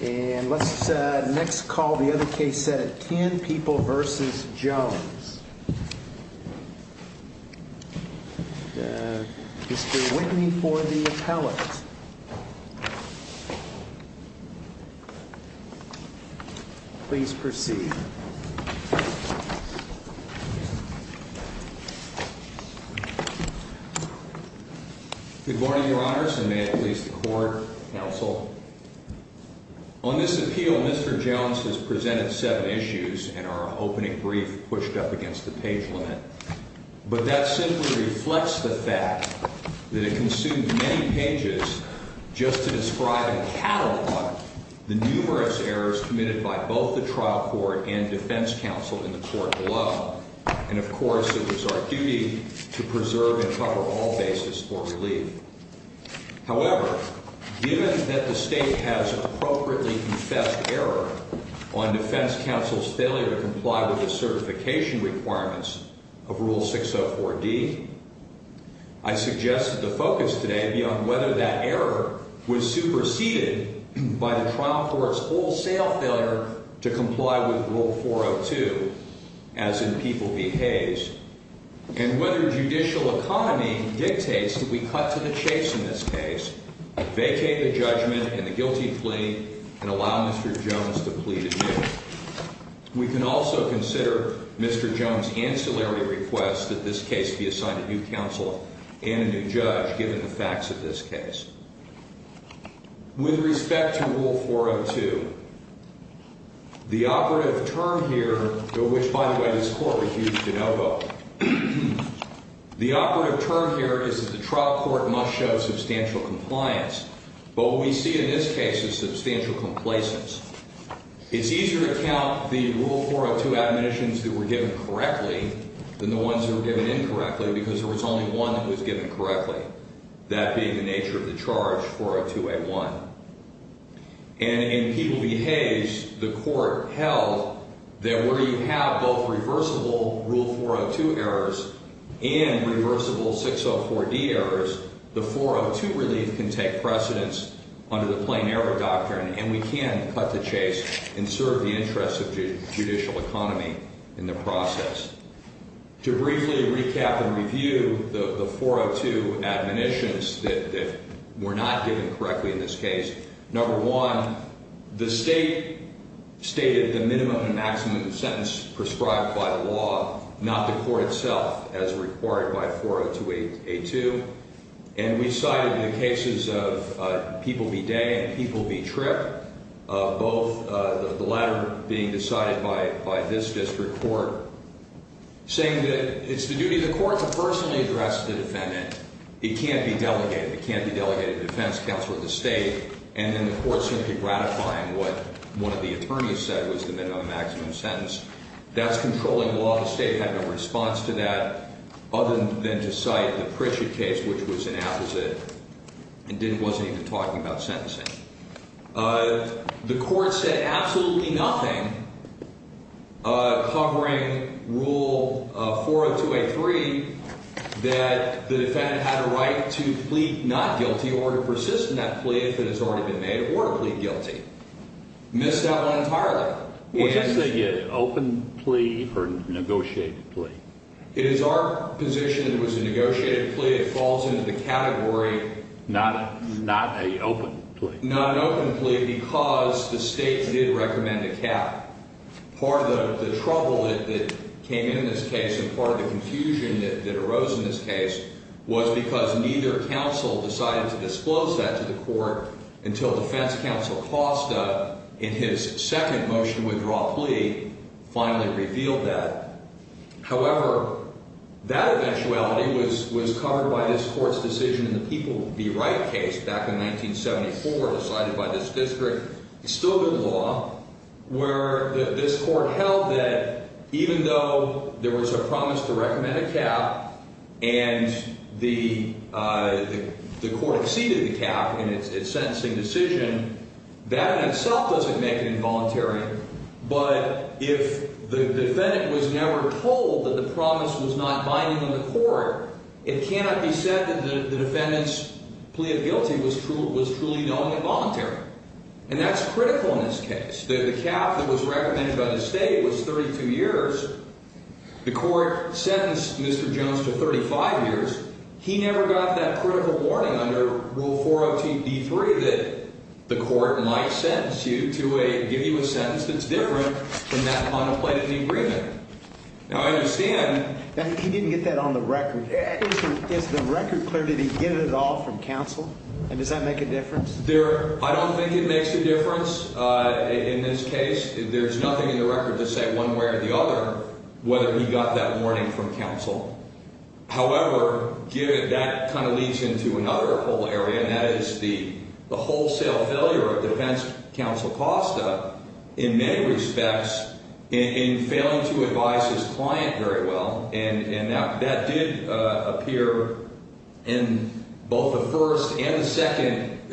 And let's next call the other case set at 10 people v. Jones. Mr. Whitney for the appellate. Please proceed. Good morning, Your Honors, and may it please the Court, Counsel. On this appeal, Mr. Jones has presented seven issues and our opening brief pushed up against the page limit. But that simply reflects the fact that it consumed many pages just to describe and catalog the numerous errors committed by both the trial court and defense counsel in the court below. And, of course, it was our duty to preserve and cover all basis for relief. However, given that the State has appropriately confessed error on defense counsel's failure to comply with the certification requirements of Rule 604D, I suggest that the focus today be on whether that error was superseded by the trial court's wholesale failure to comply with Rule 402, as in people v. Hayes, and whether judicial economy dictates that we cut to the chase in this case, vacate the judgment and the guilty plea, and allow Mr. Jones to plead adieu. We can also consider Mr. Jones' ancillary request that this case be assigned a new counsel and a new judge, given the facts of this case. With respect to Rule 402, the operative term here, which, by the way, this Court refused to know about, the operative term here is that the trial court must show substantial compliance. But what we see in this case is substantial complacence. It's easier to count the Rule 402 admonitions that were given correctly than the ones that were given incorrectly because there was only one that was given correctly, that being the nature of the charge, 402A1. And in people v. Hayes, the Court held that where you have both reversible Rule 402 errors and reversible 604D errors, the 402 relief can take precedence under the plain error doctrine, and we can cut the chase and serve the interests of judicial economy in the process. To briefly recap and review the 402 admonitions that were not given correctly in this case, number one, the State stated the minimum and maximum sentence prescribed by the law, not the Court itself, as required by 402A2. And we decided in the cases of people v. Day and people v. Tripp, both the latter being decided by this district court, saying that it's the duty of the Court to personally address the defendant. It can't be delegated. It can't be delegated to the defense counsel of the State. And then the Court simply gratifying what one of the attorneys said was the minimum and maximum sentence. That's controlling the law. The State had no response to that other than to cite the Pritchett case, which was an apposite and wasn't even talking about sentencing. The Court said absolutely nothing, covering Rule 402A3, that the defendant had a right to plead not guilty or to persist in that plea if it has already been made, or to plead guilty. Missed that one entirely. Was that, say, an open plea or a negotiated plea? It is our position it was a negotiated plea. It falls into the category not a open plea. Not an open plea because the State did recommend a cap. Part of the trouble that came in this case and part of the confusion that arose in this case was because neither counsel decided to disclose that to the Court until defense counsel Costa, in his second motion withdraw plea, finally revealed that. However, that eventuality was covered by this Court's decision in the People Be Right case back in 1974 decided by this district. It's still good law where this Court held that even though there was a promise to recommend a cap and the Court exceeded the cap in its sentencing decision, that in itself doesn't make it involuntary. But if the defendant was never told that the promise was not binding on the Court, it cannot be said that the defendant's plea of guilty was truly known involuntary. And that's critical in this case. The cap that was recommended by the State was 32 years. The Court sentenced Mr. Jones to 35 years. He never got that critical warning under Rule 402B3 that the Court might sentence you to a – give you a sentence that's different than that contemplated in the agreement. Now, I understand – He didn't get that on the record. Is the record clear? Did he get it at all from counsel? And does that make a difference? There – I don't think it makes a difference in this case. There's nothing in the record to say one way or the other whether he got that warning from counsel. However, that kind of leads into another whole area, and that is the wholesale failure of Defense Counsel Costa in many respects in failing to advise his client very well. And that did appear in both the first and the second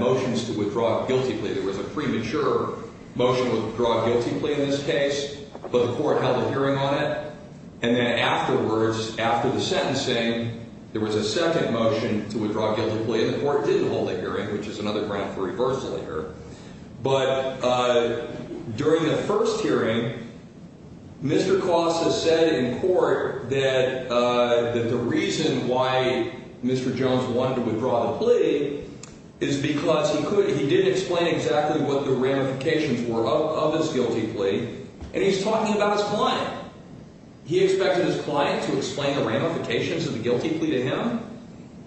motions to withdraw a guilty plea. There was a premature motion to withdraw a guilty plea in this case, but the Court held a hearing on it. And then afterwards, after the sentencing, there was a second motion to withdraw a guilty plea, and the Court didn't hold a hearing, which is another ground for reversal here. But during the first hearing, Mr. Costa said in court that the reason why Mr. Jones wanted to withdraw the plea is because he could – he did explain exactly what the ramifications were of his guilty plea, and he's talking about his client. He expected his client to explain the ramifications of the guilty plea to him,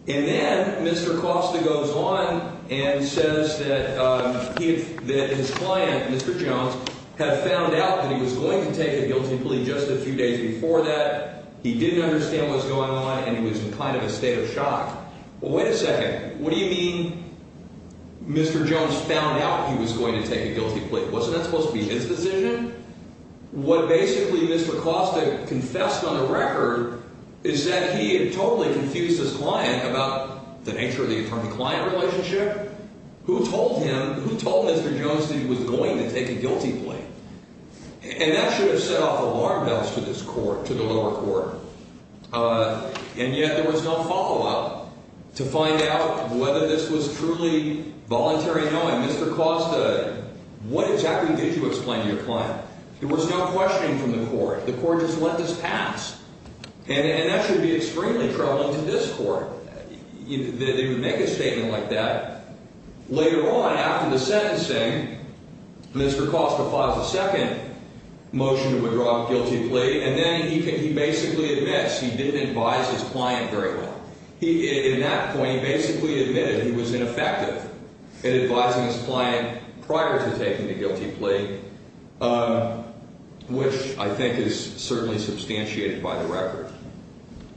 and then Mr. Costa goes on and says that he – that his client, Mr. Jones, had found out that he was going to take a guilty plea just a few days before that. He didn't understand what's going on, and he was in kind of a state of shock. Well, wait a second. What do you mean Mr. Jones found out he was going to take a guilty plea? Wasn't that supposed to be his decision? What basically Mr. Costa confessed on the record is that he had totally confused his client about the nature of the attorney-client relationship. Who told him – who told Mr. Jones that he was going to take a guilty plea? And that should have set off alarm bells to this Court – to the lower court. And yet there was no follow-up to find out whether this was truly voluntary knowing. What exactly did you explain to your client? There was no questioning from the Court. The Court just let this pass. And that should be extremely troubling to this Court that they would make a statement like that. Later on, after the sentencing, Mr. Costa files a second motion to withdraw a guilty plea, and then he basically admits he didn't advise his client very well. In that point, he basically admitted he was ineffective in advising his client prior to taking the guilty plea, which I think is certainly substantiated by the record.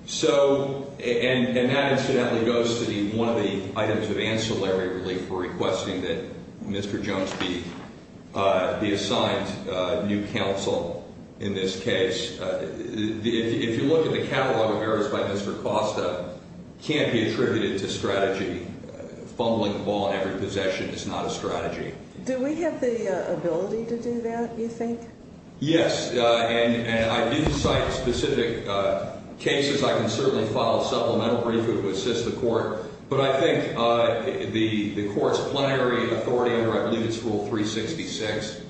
So – and that incidentally goes to one of the items of ancillary relief for requesting that Mr. Jones be assigned new counsel in this case. If you look at the catalog of errors by Mr. Costa, it can't be attributed to strategy. Fumbling the ball in every possession is not a strategy. Do we have the ability to do that, you think? Yes. And I do cite specific cases. I can certainly file a supplemental brief that would assist the Court. But I think the Court's plenary authority under, I believe it's Rule 366,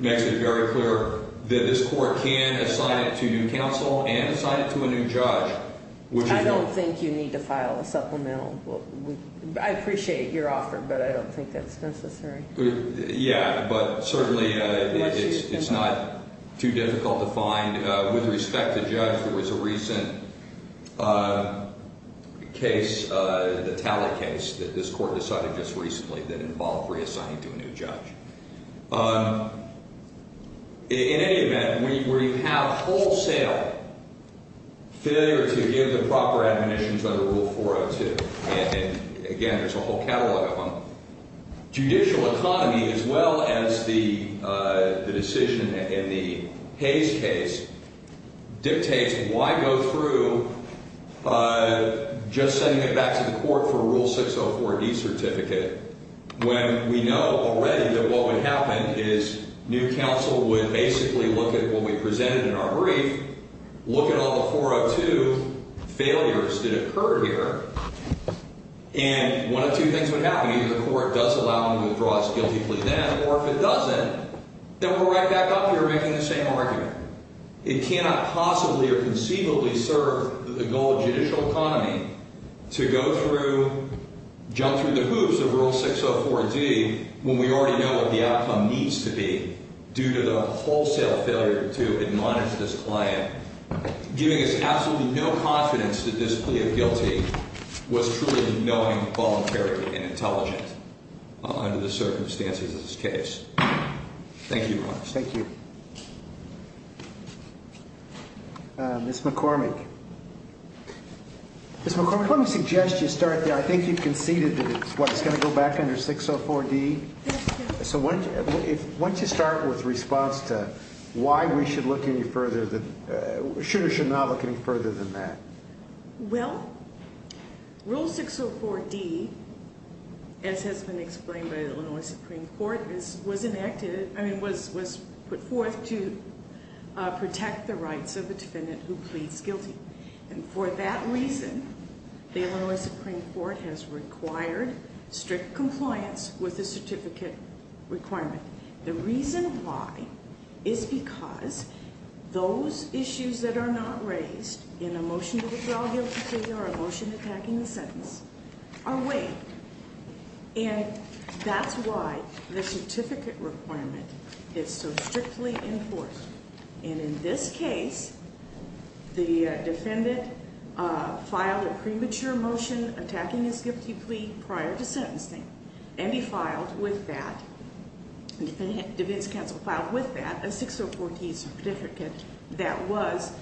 makes it very clear that this Court can assign it to new counsel and assign it to a new judge. I don't think you need to file a supplemental. I appreciate your offer, but I don't think that's necessary. Yeah, but certainly it's not too difficult to find. With respect to Judge, there was a recent case, the Talley case that this Court decided just recently that involved reassigning to a new judge. In any event, we have wholesale failure to give the proper admonitions under Rule 402. And, again, there's a whole catalog of them. Judicial economy, as well as the decision in the Hayes case, dictates why go through just sending it back to the Court for a Rule 604D certificate, when we know already that what would happen is new counsel would basically look at what we presented in our brief, look at all the 402 failures that occurred here, and one of two things would happen. Either the Court does allow them to withdraw its guilty plea then, or if it doesn't, then we're right back up here making the same argument. It cannot possibly or conceivably serve the goal of judicial economy to go through, jump through the hoops of Rule 604D, when we already know what the outcome needs to be due to the wholesale failure to admonish this client, giving us absolutely no confidence that this plea of guilty was truly knowing, voluntary, and intelligent under the circumstances of this case. Thank you, Your Honor. Thank you. Ms. McCormick. Ms. McCormick, let me suggest you start there. I think you've conceded that it's going to go back under 604D. So why don't you start with response to why we should look any further, should or should not look any further than that. Well, Rule 604D, as has been explained by the Illinois Supreme Court, was put forth to protect the rights of the defendant who pleads guilty. And for that reason, the Illinois Supreme Court has required strict compliance with the certificate requirement. The reason why is because those issues that are not raised in a motion to withdraw guilty plea or a motion attacking the sentence are weighed. And that's why the certificate requirement is so strictly enforced. And in this case, the defendant filed a premature motion attacking his guilty plea prior to sentencing. And he filed with that, the defense counsel filed with that a 604D certificate that was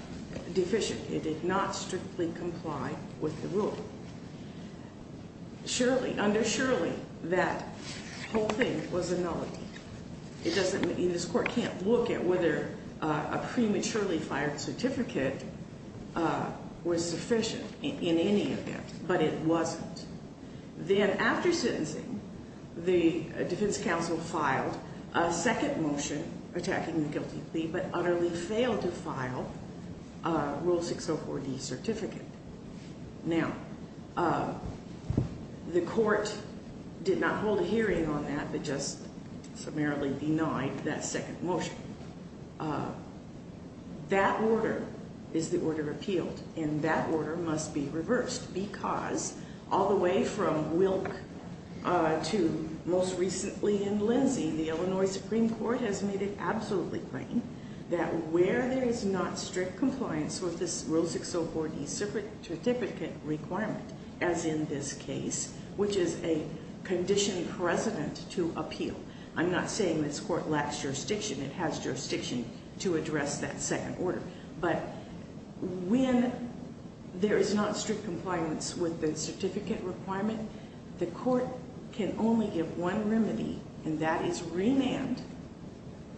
deficient. It did not strictly comply with the rule. Surely, undersurely, that whole thing was a nullity. It doesn't mean this court can't look at whether a prematurely fired certificate was sufficient in any event, but it wasn't. Then after sentencing, the defense counsel filed a second motion attacking the guilty plea, but utterly failed to file a Rule 604D certificate. Now, the court did not hold a hearing on that, but just summarily denied that second motion. That order is the order appealed, and that order must be reversed. Because all the way from Wilk to most recently in Lindsay, the Illinois Supreme Court has made it absolutely plain that where there is not strict compliance with this Rule 604D certificate requirement, as in this case, which is a condition precedent to appeal. I'm not saying this court lacks jurisdiction. It has jurisdiction to address that second order. But when there is not strict compliance with the certificate requirement, the court can only give one remedy, and that is remand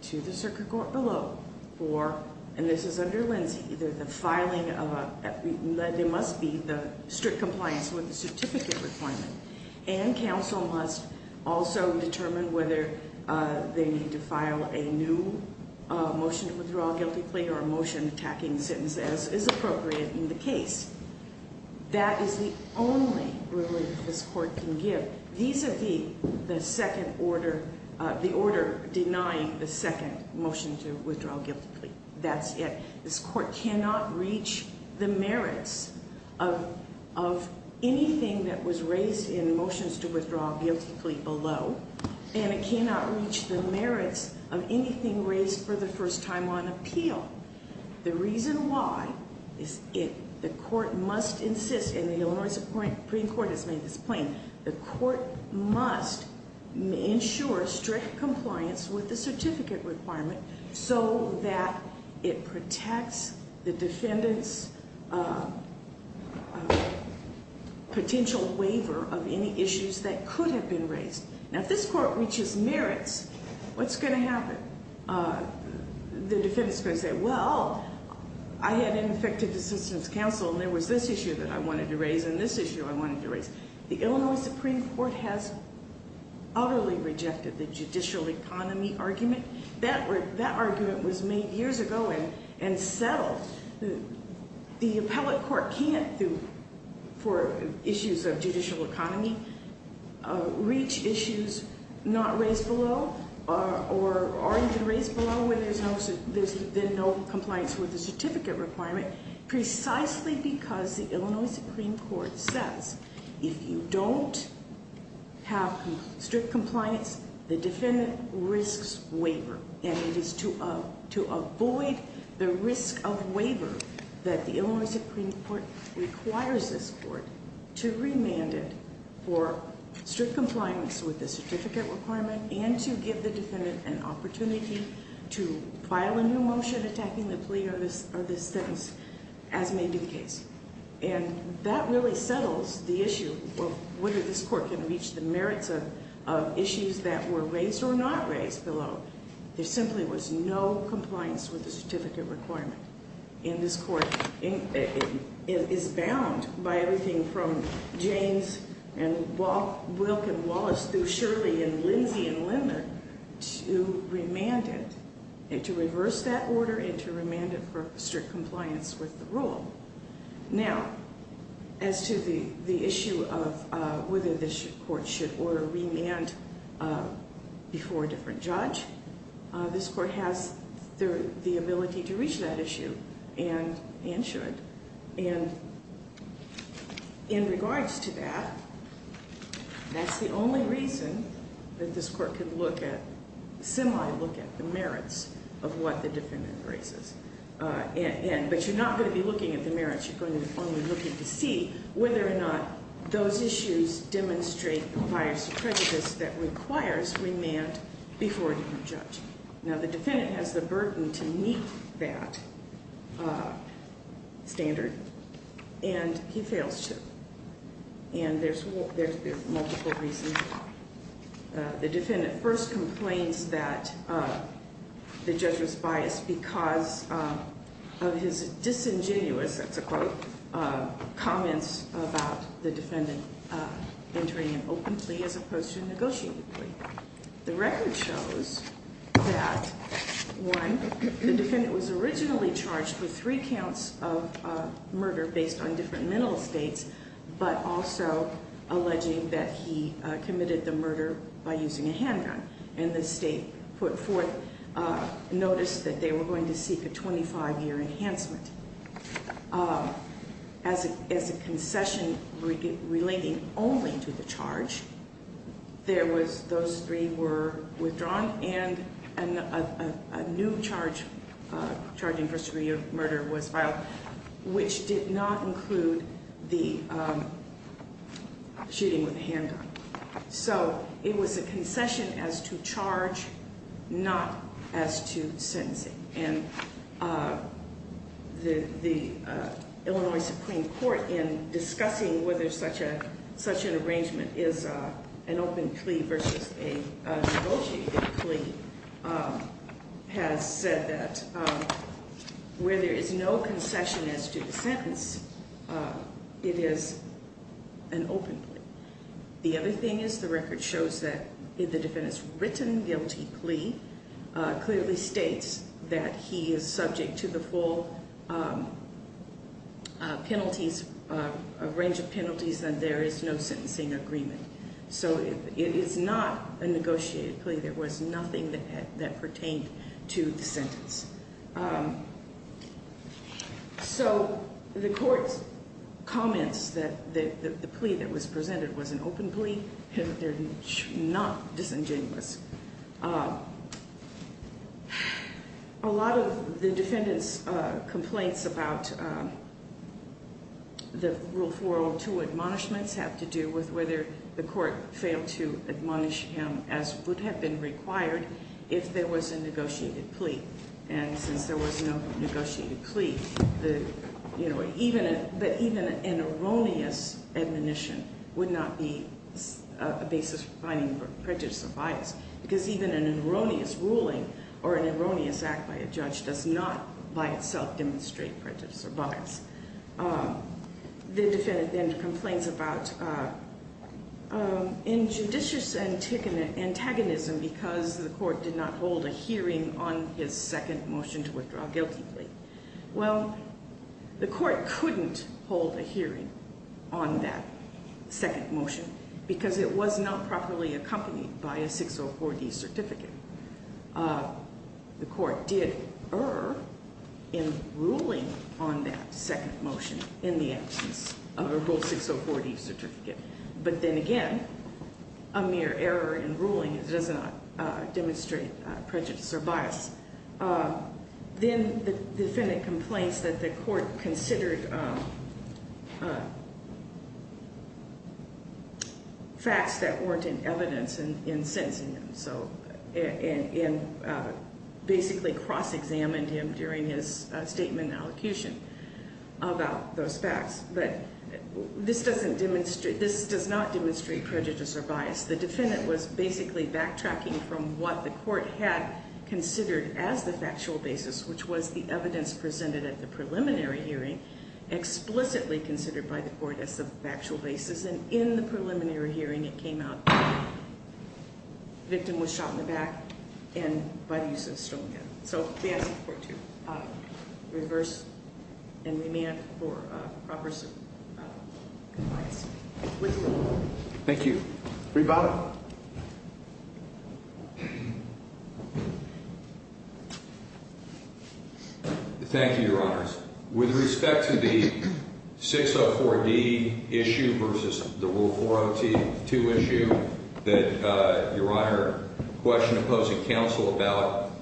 to the circuit court below. And this is under Lindsay. There must be the strict compliance with the certificate requirement. And counsel must also determine whether they need to file a new motion to withdraw a guilty plea or a motion attacking the sentence as is appropriate in the case. That is the only remedy that this court can give, vis-a-vis the order denying the second motion to withdraw a guilty plea. That's it. This court cannot reach the merits of anything that was raised in motions to withdraw a guilty plea below, and it cannot reach the merits of anything raised for the first time on appeal. The reason why is the court must insist, and the Illinois Supreme Court has made this plain, the court must ensure strict compliance with the certificate requirement so that it protects the defendant's potential waiver of any issues that could have been raised. Now, if this court reaches merits, what's going to happen? The defendant's going to say, well, I had an effective assistance counsel, and there was this issue that I wanted to raise and this issue I wanted to raise. The Illinois Supreme Court has utterly rejected the judicial economy argument. That argument was made years ago and settled. The appellate court can't, for issues of judicial economy, reach issues not raised below or are even raised below where there's been no compliance with the certificate requirement precisely because the Illinois Supreme Court says if you don't have strict compliance, the defendant risks waiver. And it is to avoid the risk of waiver that the Illinois Supreme Court requires this court to remand it for strict compliance with the certificate requirement and to give the defendant an opportunity to file a new motion attacking the plea or the sentence as may be the case. And that really settles the issue of whether this court can reach the merits of issues that were raised or not raised below. There simply was no compliance with the certificate requirement in this court. It is bound by everything from James and Wilk and Wallace through Shirley and Lindsey and Lindler to remand it, to reverse that order and to remand it for strict compliance with the rule. Now, as to the issue of whether this court should order remand before a different judge, this court has the ability to reach that issue and should. And in regards to that, that's the only reason that this court can look at, semi-look at the merits of what the defendant raises. But you're not going to be looking at the merits. You're going to be only looking to see whether or not those issues demonstrate the bias or prejudice that requires remand before a different judge. Now, the defendant has the burden to meet that standard, and he fails to. And there's multiple reasons. The defendant first complains that the judge was biased because of his disingenuous, that's a quote, comments about the defendant entering an open plea as opposed to a negotiated plea. The record shows that, one, the defendant was originally charged with three counts of murder based on different mental states, but also alleging that he committed the murder by using a handgun. And the state put forth notice that they were going to seek a 25-year enhancement. As a concession relating only to the charge, those three were withdrawn, and a new charge, charging first degree of murder, was filed, which did not include the shooting with a handgun. So it was a concession as to charge, not as to sentencing. And the Illinois Supreme Court, in discussing whether such an arrangement is an open plea versus a negotiated plea, has said that where there is no concession as to the sentence, it is an open plea. The other thing is the record shows that if the defendant's written guilty plea clearly states that he is subject to the full penalties, a range of penalties, then there is no sentencing agreement. So it is not a negotiated plea. There was nothing that pertained to the sentence. So the court comments that the plea that was presented was an open plea. They're not disingenuous. A lot of the defendant's complaints about the Rule 402 admonishments have to do with whether the court failed to admonish him as would have been required if there was a negotiated plea. And since there was no negotiated plea, even an erroneous admonition would not be a basis for finding prejudice or bias. Because even an erroneous ruling or an erroneous act by a judge does not by itself demonstrate prejudice or bias. The defendant then complains about injudicious antagonism because the court did not hold a hearing on his second motion to withdraw a guilty plea. Well, the court couldn't hold a hearing on that second motion because it was not properly accompanied by a 604D certificate. The court did err in ruling on that second motion in the absence of a Rule 604D certificate. But then again, a mere error in ruling does not demonstrate prejudice or bias. Then the defendant complains that the court considered facts that weren't in evidence in sentencing him. And basically cross-examined him during his statement and allocution about those facts. But this does not demonstrate prejudice or bias. The defendant was basically backtracking from what the court had considered as the factual basis, which was the evidence presented at the preliminary hearing explicitly considered by the court as the factual basis. And in the preliminary hearing, it came out that the victim was shot in the back and by the use of a stone gun. So we ask the court to reverse and remand for proper advice. Thank you. Rebottom. Thank you, Your Honors. With respect to the 604D issue versus the Rule 402 issue that Your Honor questioned opposing counsel about,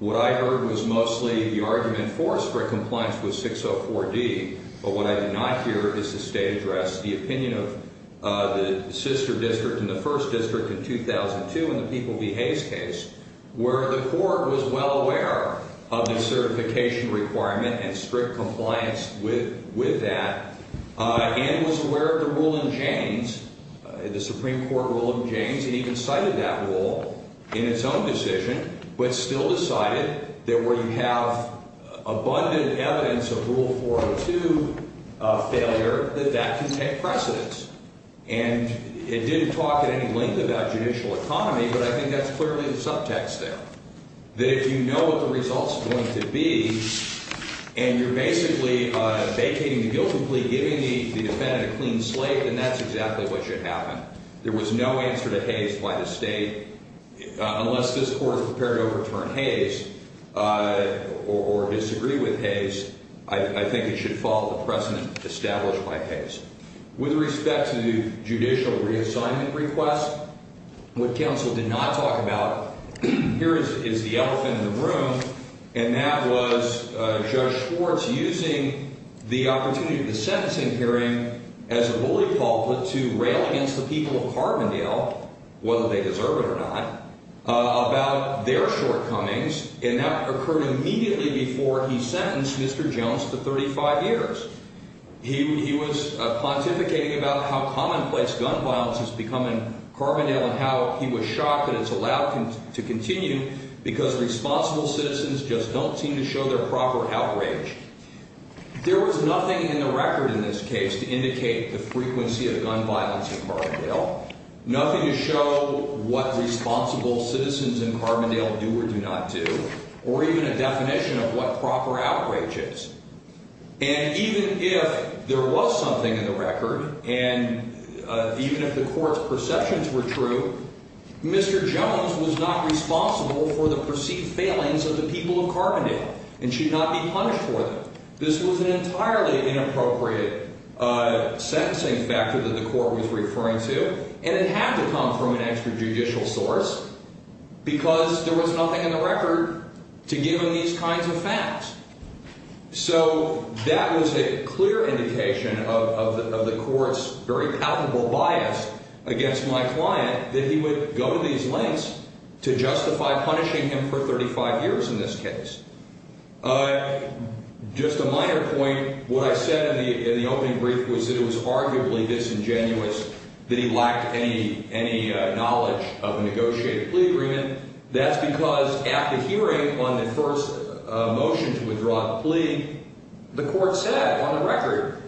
what I heard was mostly the argument for strict compliance with 604D. But what I did not hear is the state address, the opinion of the sister district and the first district in 2002 in the People v. Hayes case, where the court was well aware of the certification requirement and strict compliance with that and was aware of the rule in James, the Supreme Court rule in James. It even cited that rule in its own decision but still decided that where you have abundant evidence of Rule 402 failure, that that can take precedence. And it didn't talk at any length about judicial economy, but I think that's clearly the subtext there, that if you know what the result's going to be and you're basically vacating the guilt complete, giving the defendant a clean slate, then that's exactly what should happen. There was no answer to Hayes by the state. Unless this Court is prepared to overturn Hayes or disagree with Hayes, I think it should follow the precedent established by Hayes. With respect to the judicial reassignment request, what counsel did not talk about, here is the elephant in the room, and that was Judge Schwartz using the opportunity of the sentencing hearing as a bully pulpit to rail against the people of Carbondale, whether they deserve it or not, about their shortcomings, and that occurred immediately before he sentenced Mr. Jones to 35 years. He was pontificating about how commonplace gun violence has become in Carbondale and how he was shocked that it's allowed to continue because responsible citizens just don't seem to show their proper outrage. There was nothing in the record in this case to indicate the frequency of gun violence in Carbondale, nothing to show what responsible citizens in Carbondale do or do not do, or even a definition of what proper outrage is. And even if there was something in the record and even if the Court's perceptions were true, Mr. Jones was not responsible for the perceived failings of the people of Carbondale and should not be punished for them. This was an entirely inappropriate sentencing factor that the Court was referring to, and it had to come from an extrajudicial source because there was nothing in the record to give him these kinds of facts. So that was a clear indication of the Court's very palpable bias against my client, that he would go to these lengths to justify punishing him for 35 years in this case. Just a minor point, what I said in the opening brief was that it was arguably disingenuous that he lacked any knowledge of a negotiated plea agreement. That's because at the hearing on the first motion to withdraw the plea, the Court said on the record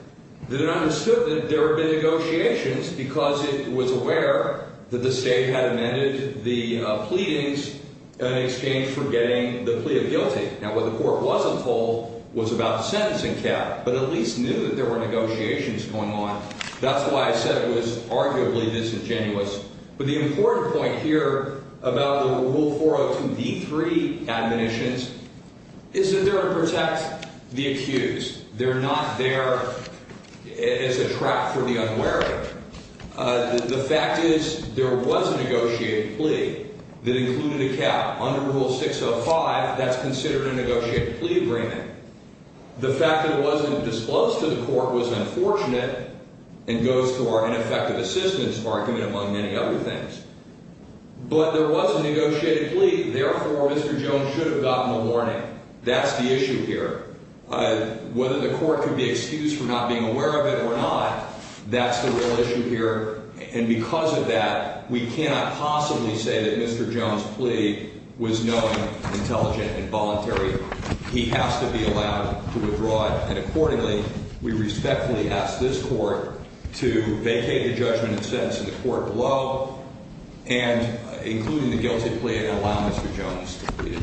that it understood that there had been negotiations because it was aware that the State had amended the pleadings in exchange for getting the plea of guilty. Now, what the Court wasn't told was about the sentencing cap, but at least knew that there were negotiations going on. That's why I said it was arguably disingenuous. But the important point here about the Rule 402b3 admonitions is that they're to protect the accused. They're not there as a trap for the unwary. The fact is there was a negotiated plea that included a cap. Under Rule 605, that's considered a negotiated plea agreement. The fact that it wasn't disclosed to the Court was unfortunate and goes to our ineffective assistance argument, among many other things. But there was a negotiated plea. Therefore, Mr. Jones should have gotten a warning. That's the issue here. Whether the Court could be excused for not being aware of it or not, that's the real issue here. And because of that, we cannot possibly say that Mr. Jones' plea was knowing, intelligent, and voluntary. He has to be allowed to withdraw it. And accordingly, we respectfully ask this Court to vacate the judgment and sentence in the Court below, including the guilty plea, and allow Mr. Jones to plead.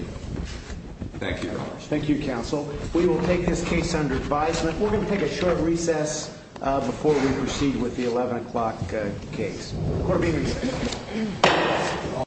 Thank you, Your Honors. Thank you, Counsel. We will take this case under advisement. We're going to take a short recess before we proceed with the 11 o'clock case. Court will be in recess.